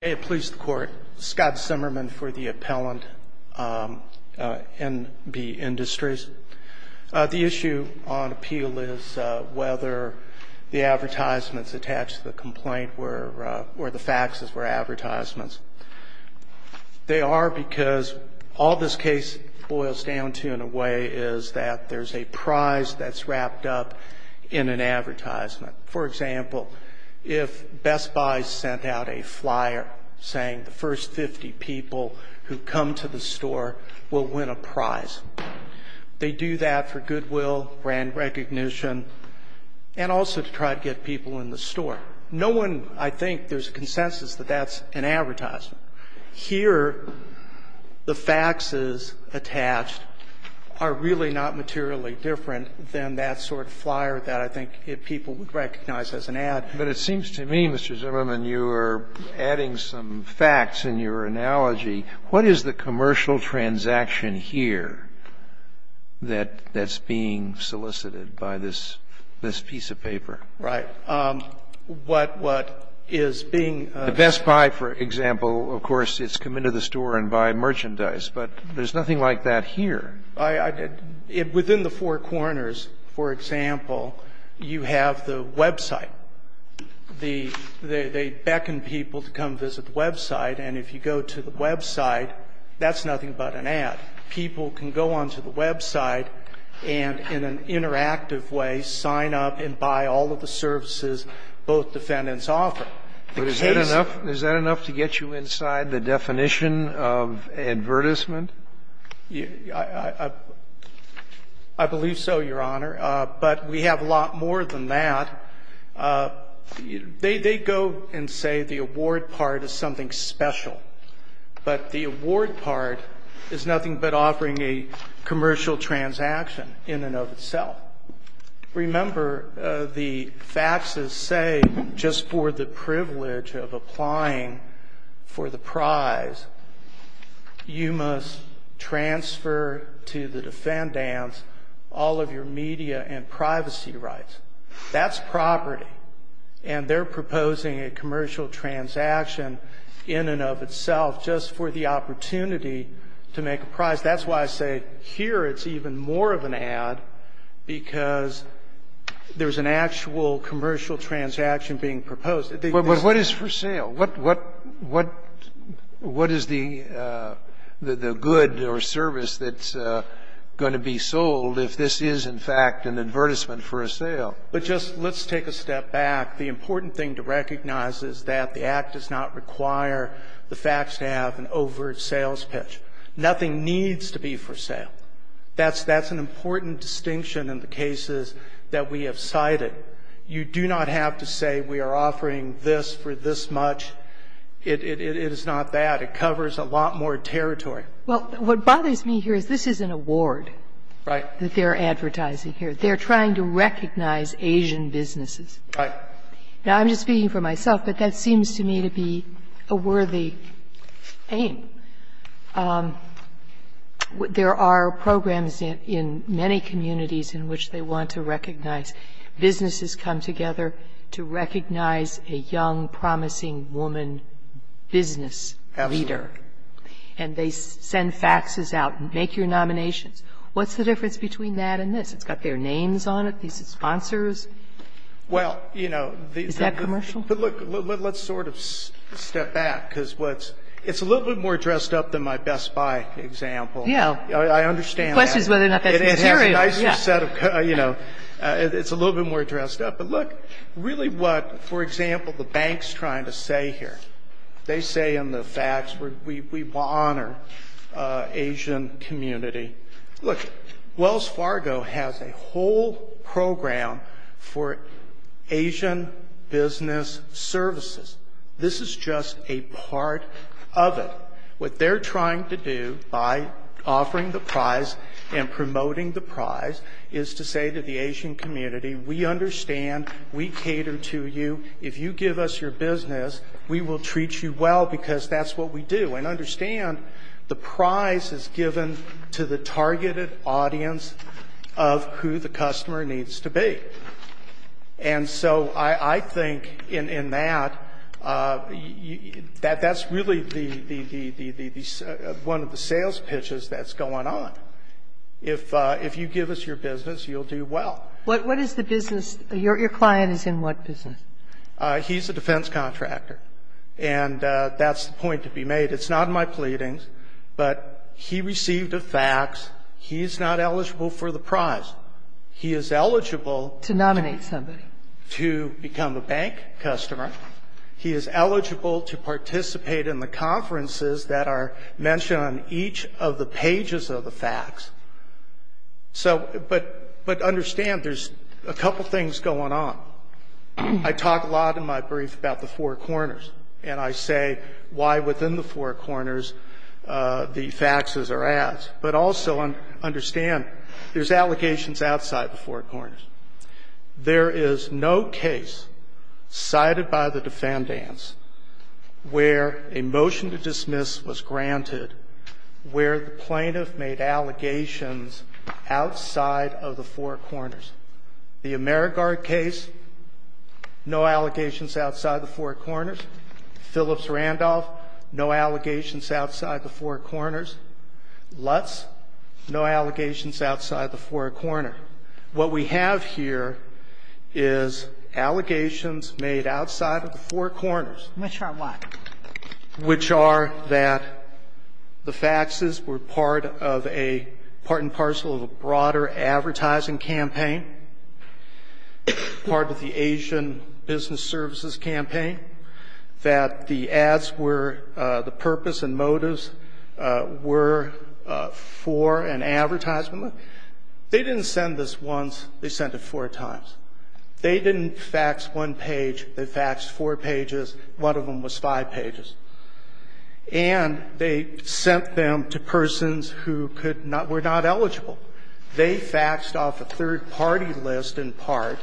May it please the Court, Scott Zimmerman for the Appellant, N.B. Industries. The issue on appeal is whether the advertisements attached to the complaint were, or the faxes were advertisements. They are because all this case boils down to, in a way, is that there's a prize that's wrapped up in an advertisement. For example, if Best Buy sent out a flyer saying the first 50 people who come to the store will win a prize, they do that for goodwill, brand recognition, and also to try to get people in the store. No one, I think, there's a consensus that that's an advertisement. Here, the faxes attached are really not materially different than that sort of flyer that I think people would recognize as an ad. But it seems to me, Mr. Zimmerman, you are adding some facts in your analogy. What is the commercial transaction here that's being solicited by this piece of paper? Right. What is being ---- The Best Buy, for example, of course, it's come into the store and buy merchandise. But there's nothing like that here. Within the Four Corners, for example, you have the website. They beckon people to come visit the website. And if you go to the website, that's nothing but an ad. People can go on to the website and in an interactive way sign up and buy all of the services both defendants offer. But is that enough to get you inside the definition of advertisement? I believe so, Your Honor. But we have a lot more than that. They go and say the award part is something special. But the award part is nothing but offering a commercial transaction in and of itself. Remember, the faxes say just for the privilege of applying for the prize, you must transfer to the defendants all of your media and privacy rights. That's property. And they're proposing a commercial transaction in and of itself just for the opportunity to make a prize. That's why I say here it's even more of an ad, because there's an actual commercial transaction being proposed. But what is for sale? What is the good or service that's going to be sold if this is, in fact, an advertisement for a sale? But just let's take a step back. The important thing to recognize is that the Act does not require the fax to have an overt sales pitch. Nothing needs to be for sale. That's an important distinction in the cases that we have cited. You do not have to say we are offering this for this much. It is not that. It covers a lot more territory. Well, what bothers me here is this is an award. Right. That they're advertising here. They're trying to recognize Asian businesses. Right. Now, I'm just speaking for myself, but that seems to me to be a worthy aim. There are programs in many communities in which they want to recognize. Businesses come together to recognize a young, promising woman business leader. Absolutely. And they send faxes out. Make your nominations. What's the difference between that and this? It's got their names on it. These are sponsors. Well, you know. Is that commercial? But, look, let's sort of step back because it's a little bit more dressed up than my Best Buy example. Yeah. I understand that. The question is whether or not that's material. It has a nicer set of, you know, it's a little bit more dressed up. But, look, really what, for example, the bank's trying to say here, they say in the fax we honor Asian community. Look, Wells Fargo has a whole program for Asian business services. This is just a part of it. What they're trying to do by offering the prize and promoting the prize is to say to the Asian community, we understand, we cater to you, if you give us your business, we will treat you well because that's what we do. And understand, the prize is given to the targeted audience of who the customer needs to be. And so I think in that, that's really the one of the sales pitches that's going on. If you give us your business, you'll do well. What is the business? Your client is in what business? He's a defense contractor. And that's the point to be made. It's not in my pleadings, but he received a fax. He's not eligible for the prize. He is eligible to become a bank customer. He is eligible to participate in the conferences that are mentioned on each of the pages of the fax. So, but understand, there's a couple things going on. I talk a lot in my brief about the four corners. And I say why within the four corners the faxes are at. But also understand, there's allegations outside the four corners. There is no case cited by the defendants where a motion to dismiss was granted, where the plaintiff made allegations outside of the four corners. The Amerigard case, no allegations outside the four corners. Phillips-Randolph, no allegations outside the four corners. Lutz, no allegations outside the four corner. What we have here is allegations made outside of the four corners. Which are what? Which are that the faxes were part and parcel of a broader advertising campaign, part of the Asian business services campaign, that the ads were the purpose and motives were for an advertisement. They didn't send this once. They sent it four times. They didn't fax one page. They faxed four pages. One of them was five pages. And they sent them to persons who could not, were not eligible. They faxed off a third-party list in part.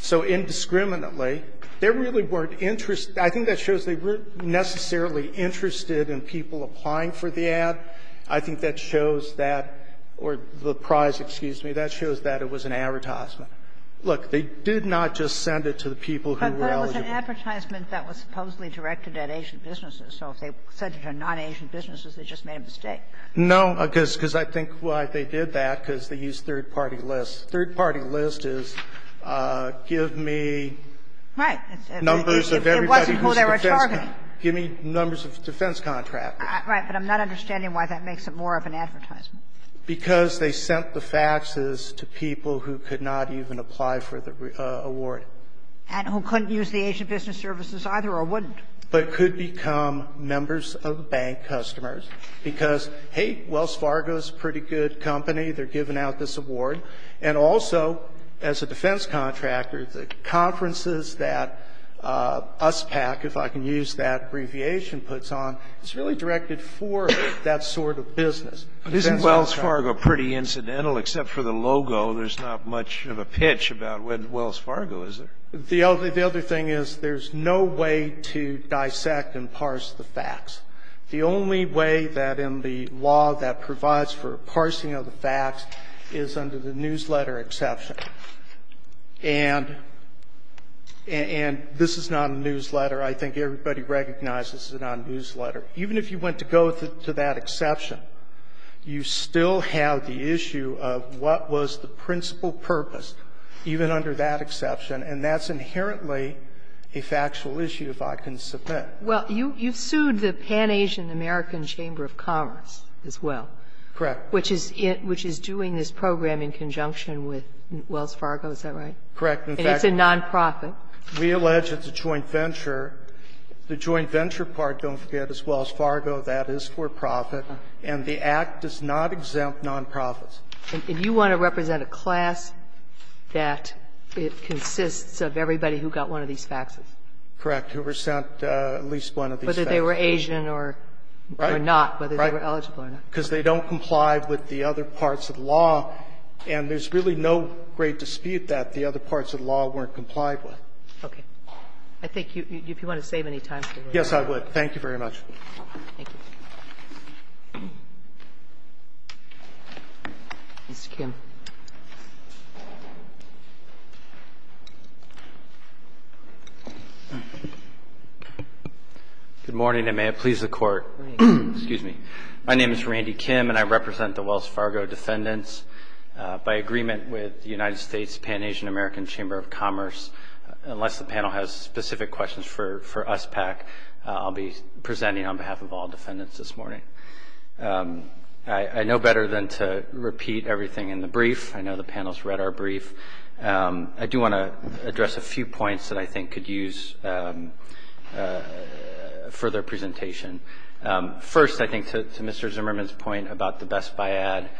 So indiscriminately, they really weren't interested. I think that shows they weren't necessarily interested in people applying for the ad. I think that shows that, or the prize, excuse me, that shows that it was an advertisement. Look, they did not just send it to the people who were eligible. But it was an advertisement that was supposedly directed at Asian businesses. So if they sent it to non-Asian businesses, they just made a mistake. No, because I think why they did that, because they used third-party lists. Third-party list is give me numbers of everybody who's defense. Right. It wasn't who they were targeting. Give me numbers of defense contractors. Right. But I'm not understanding why that makes it more of an advertisement. Because they sent the faxes to people who could not even apply for the award. And who couldn't use the Asian business services either or wouldn't. But could become members of the bank customers because, hey, Wells Fargo is a pretty good company. They're giving out this award. And also, as a defense contractor, the conferences that USPAC, if I can use that abbreviation, puts on, it's really directed for that sort of business. Isn't Wells Fargo pretty incidental? Except for the logo, there's not much of a pitch about Wells Fargo, is there? The other thing is there's no way to dissect and parse the facts. The only way that in the law that provides for parsing of the facts is under the newsletter exception. And this is not a newsletter. I think everybody recognizes it's not a newsletter. Even if you went to go to that exception, you still have the issue of what was the principal purpose, even under that exception. And that's inherently a factual issue, if I can submit. Well, you've sued the Pan-Asian American Chamber of Commerce as well. Correct. Which is doing this program in conjunction with Wells Fargo, is that right? Correct. In fact, it's a nonprofit. We allege it's a joint venture. The joint venture part, don't forget, as well as Fargo, that is for profit. And the Act does not exempt nonprofits. And you want to represent a class that consists of everybody who got one of these faxes? Correct. Who were sent at least one of these faxes. Whether they were Asian or not, whether they were eligible or not. Because they don't comply with the other parts of law, and there's really no great dispute that the other parts of law weren't complied with. Okay. I think if you want to save any time. Yes, I would. Thank you very much. Thank you. Mr. Kim. Good morning, and may it please the Court. Excuse me. My name is Randy Kim, and I represent the Wells Fargo defendants. By agreement with the United States Pan-Asian American Chamber of Commerce, unless the panel has specific questions for us PAC, I'll be presenting on behalf of all defendants this morning. I know better than to repeat everything in the brief. I know the panel's read our brief. I do want to address a few points that I think could use further presentation. First, I think to Mr. Zimmerman's point about the best buy ad,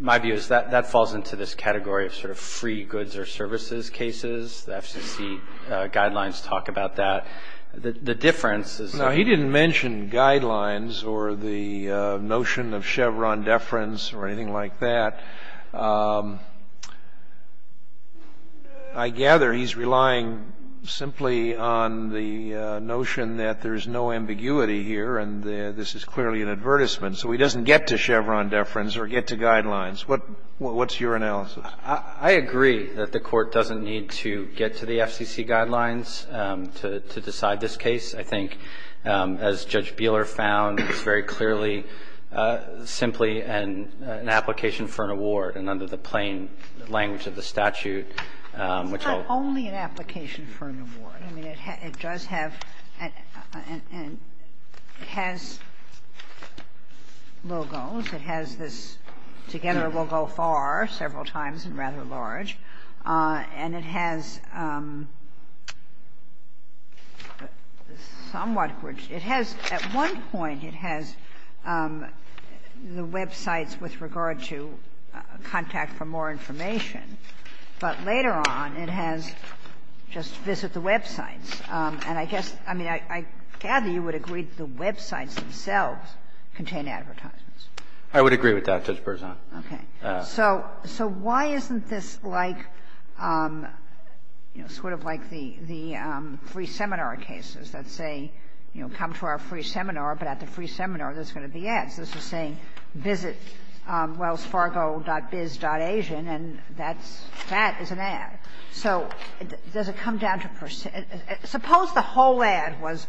my view is that that falls into this category of sort of free goods or services cases. The FCC guidelines talk about that. The difference is. No, he didn't mention guidelines or the notion of Chevron deference or anything like that. I gather he's relying simply on the notion that there's no ambiguity here, and this is clearly an advertisement. So he doesn't get to Chevron deference or get to guidelines. What's your analysis? I agree that the Court doesn't need to get to the FCC guidelines to decide this case. I think, as Judge Buehler found, it's very clearly simply an application for an award, and under the plain language of the statute, which I'll. It's not only an application for an award. I mean, it does have and has logos. It has this Together We'll Go Far, several times and rather large, and it has somewhat great – it has – at one point it has the websites with regard to contact for more information, but later on it has just visit the websites. And I guess – I mean, I gather you would agree the websites themselves contain advertisements. I would agree with that, Judge Berzon. Okay. So why isn't this like, you know, sort of like the free seminar cases that say, you know, come to our free seminar, but at the free seminar there's going to be ads? This is saying visitwellsfargo.biz.asian, and that's – that is an ad. So does it come down to – suppose the whole ad was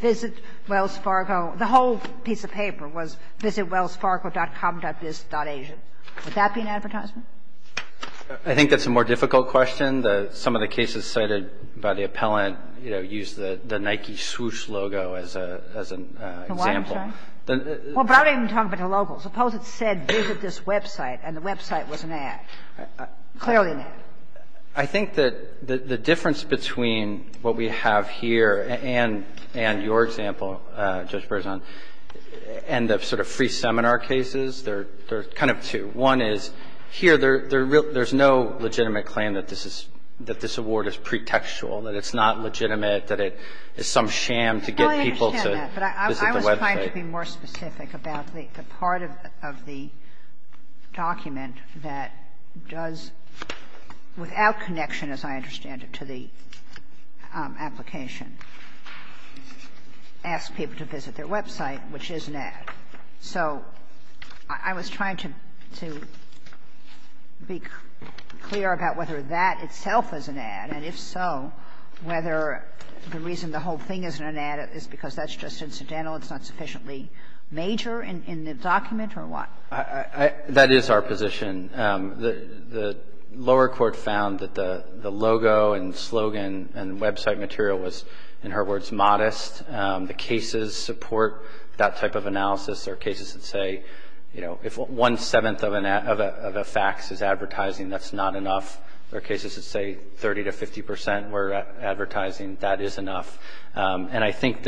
Visit Wells Fargo. The whole piece of paper was visitwellsfargo.com.biz.asian. Would that be an advertisement? I think that's a more difficult question. Some of the cases cited by the appellant, you know, use the Nike swoosh logo as an example. The what? I'm sorry? Well, I'm not even talking about the logo. Suppose it said visit this website and the website was an ad, clearly an ad. I think that the difference between what we have here and your example, Judge Berzon, and the sort of free seminar cases, there are kind of two. One is here there's no legitimate claim that this is – that this award is pretextual, that it's not legitimate, that it is some sham to get people to visit the website. I understand that, but I was trying to be more specific about the part of the document that does, without connection, as I understand it, to the application, ask people to visit their website, which is an ad. So I was trying to be clear about whether that itself is an ad, and if so, whether the reason the whole thing isn't an ad is because that's just incidental, it's not sufficiently major in the document, or what? That is our position. The lower court found that the logo and slogan and website material was, in her words, modest. The cases support that type of analysis. There are cases that say, you know, if one-seventh of a fax is advertising, that's not enough. There are cases that say 30 to 50 percent were advertising, that is enough. And I think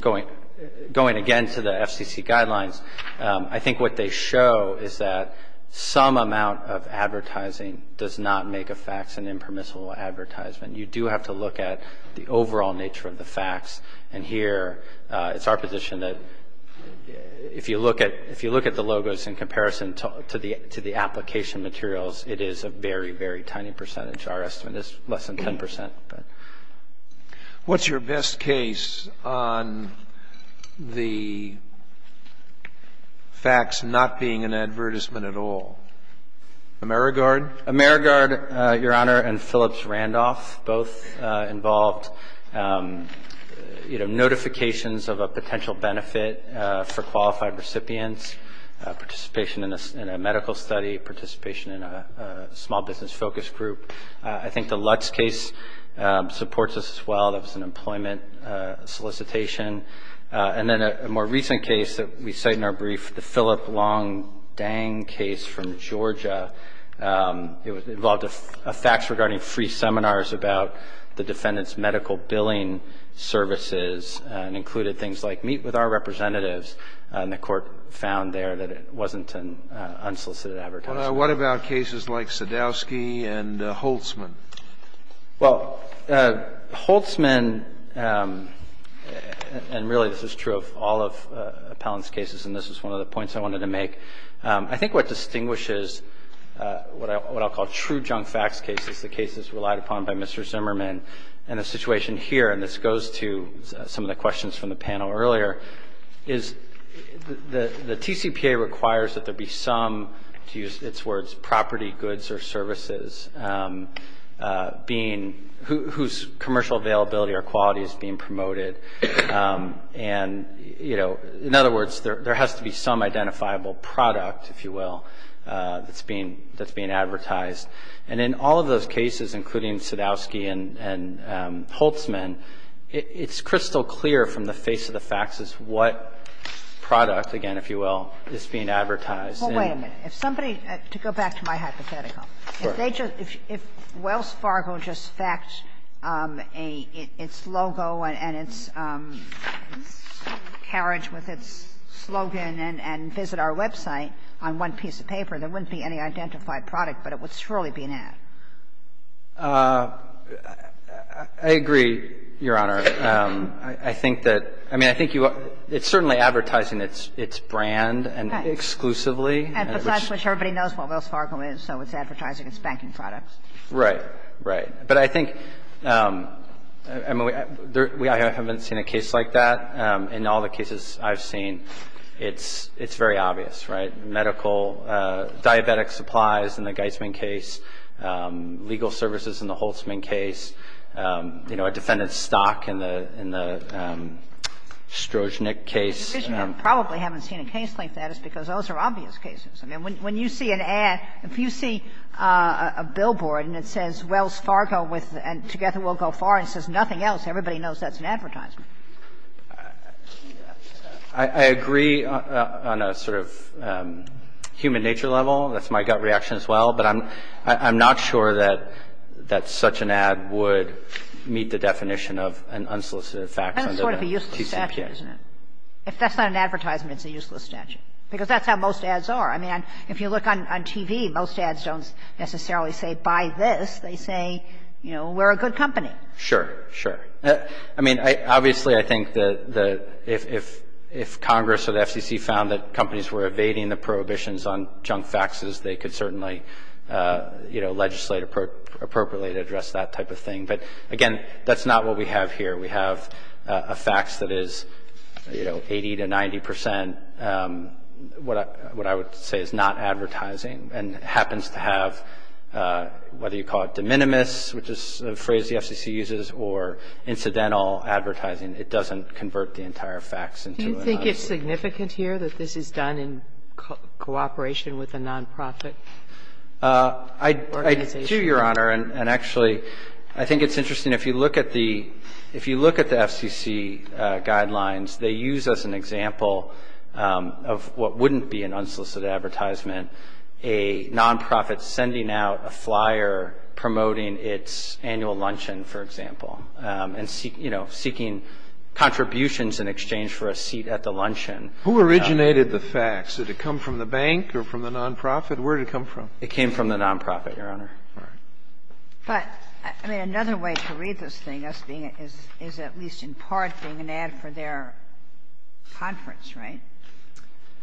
going again to the FCC guidelines, I think what they show is that some amount of advertising does not make a fax an impermissible advertisement. You do have to look at the overall nature of the fax. And here, it's our position that if you look at the logos in comparison to the application materials, it is a very, very tiny percentage. Our estimate is less than 10 percent. What's your best case on the fax not being an advertisement at all? Amerigard? Amerigard, Your Honor, and Phillips-Randolph, both involved, you know, notifications of a potential benefit for qualified recipients, participation in a medical study, participation in a small business focus group. I think the Lutz case supports this as well, that was an employment solicitation. And then a more recent case that we cite in our brief, the Phillip Long Dang case from Georgia, it involved a fax regarding free seminars about the defendant's medical billing services and included things like, meet with our representatives, and the Court found there that it wasn't an unsolicited advertisement. What about cases like Sadowski and Holtzman? Well, Holtzman, and really this is true of all of Appellant's cases, and this is one of the points I wanted to make. I think what distinguishes what I'll call true junk fax cases, the cases relied upon by Mr. Zimmerman, and the situation here, and this goes to some of the questions from the panel earlier, is the TCPA requires that there be some, to use its words, property goods or services being, whose commercial availability or quality is being promoted. And, you know, in other words, there has to be some identifiable product, if you will, that's being advertised. And in all of those cases, including Sadowski and Holtzman, it's crystal clear from the face of the faxes what product, again, if you will, is being advertised. And they just, if Wells Fargo just faxed a, its logo and its, you know, its, you know, its carriage with its slogan and visit our website on one piece of paper, there wouldn't be any identified product, but it would surely be an ad. I agree, Your Honor. I think that, I mean, I think you are, it's certainly advertising its brand and exclusively. And besides which, everybody knows what Wells Fargo is, so it's advertising its banking products. Right. Right. But I think, I mean, I haven't seen a case like that. In all the cases I've seen, it's very obvious, right? Medical, diabetic supplies in the Geisman case, legal services in the Holtzman case, you know, a defendant's stock in the Strojnick case. The reason you probably haven't seen a case like that is because those are obvious cases. I mean, when you see an ad, if you see a billboard and it says Wells Fargo with and Together We'll Go Far, and it says nothing else, everybody knows that's an advertisement. I agree on a sort of human nature level. That's my gut reaction as well. But I'm not sure that such an ad would meet the definition of an unsolicited fax under the TCPA. That's sort of a useless statute, isn't it? If that's not an advertisement, it's a useless statute, because that's how most ads are. I mean, if you look on TV, most ads don't necessarily say, buy this. They say, you know, we're a good company. Sure, sure. I mean, obviously, I think that if Congress or the FCC found that companies were evading the prohibitions on junk faxes, they could certainly, you know, legislate appropriately to address that type of thing. But, again, that's not what we have here. We have a fax that is, you know, 80 to 90 percent, what I would say is not advertising and happens to have, whether you call it de minimis, which is a phrase the FCC uses, or incidental advertising, it doesn't convert the entire fax into an ad. Do you think it's significant here that this is done in cooperation with a nonprofit organization? I do, Your Honor. And actually, I think it's interesting. If you look at the FCC guidelines, they use as an example of what wouldn't be an unsolicited advertisement, a nonprofit sending out a flyer promoting its annual luncheon, for example, and, you know, seeking contributions in exchange for a seat at the luncheon. Who originated the fax? Did it come from the bank or from the nonprofit? Where did it come from? It came from the nonprofit, Your Honor. But, I mean, another way to read this thing is being at least in part being an ad for their conference, right?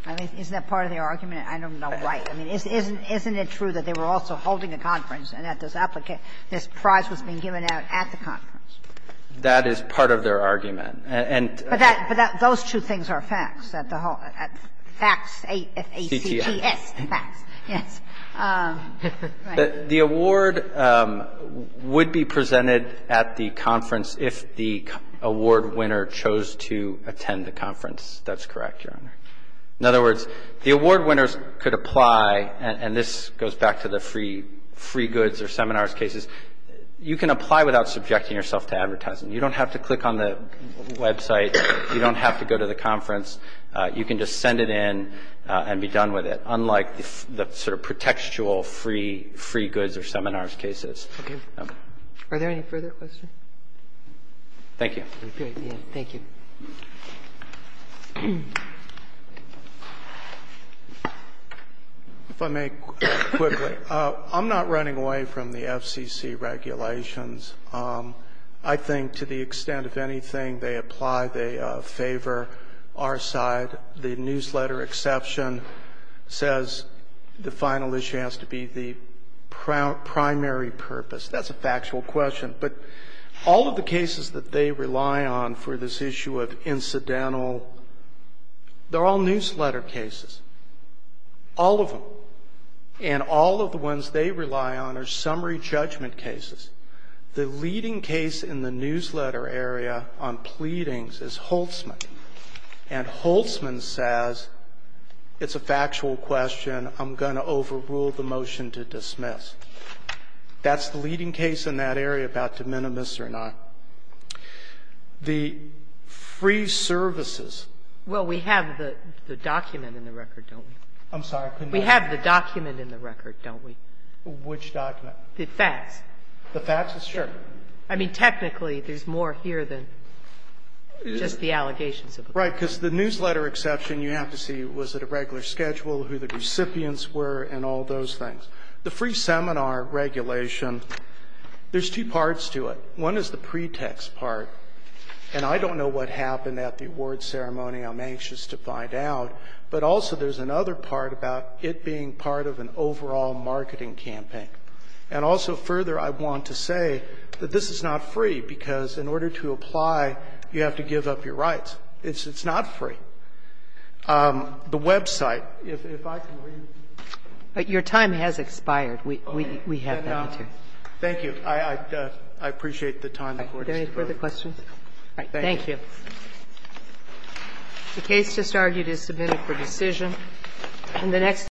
Isn't that part of their argument? I don't know why. I mean, isn't it true that they were also holding a conference and that this applicant this prize was being given out at the conference? That is part of their argument. But that those two things are faxed at the hall, fax, A-F-A-C-T-S, fax, yes. The award would be presented at the conference if the award winner chose to attend the conference. That's correct, Your Honor. In other words, the award winners could apply, and this goes back to the free goods or seminars cases, you can apply without subjecting yourself to advertising. You don't have to click on the website. You don't have to go to the conference. You can just send it in and be done with it. Unlike the sort of pretextual free goods or seminars cases. Are there any further questions? Thank you. Thank you. If I may quickly, I'm not running away from the FCC regulations. I think to the extent of anything they apply, they favor our side. The newsletter exception says the final issue has to be the primary purpose. That's a factual question. But all of the cases that they rely on for this issue of incidental, they're all newsletter cases. All of them. And all of the ones they rely on are summary judgment cases. The leading case in the newsletter area on pleadings is Holtzman. And Holtzman says it's a factual question. I'm going to overrule the motion to dismiss. That's the leading case in that area about de minimis or not. The free services. Well, we have the document in the record, don't we? I'm sorry. We have the document in the record, don't we? Which document? The facts. The facts? Sure. I mean, technically, there's more here than just the allegations of the court. Right. Because the newsletter exception, you have to see, was it a regular schedule, who the recipients were, and all those things. The free seminar regulation, there's two parts to it. One is the pretext part. And I don't know what happened at the award ceremony. I'm anxious to find out. But also there's another part about it being part of an overall marketing campaign. And also further, I want to say that this is not free, because in order to apply, you have to give up your rights. It's not free. The website, if I can read it. Your time has expired. We have that. Thank you. I appreciate the time the Court has provided. Do you have any further questions? Thank you. The case just argued is submitted for decision.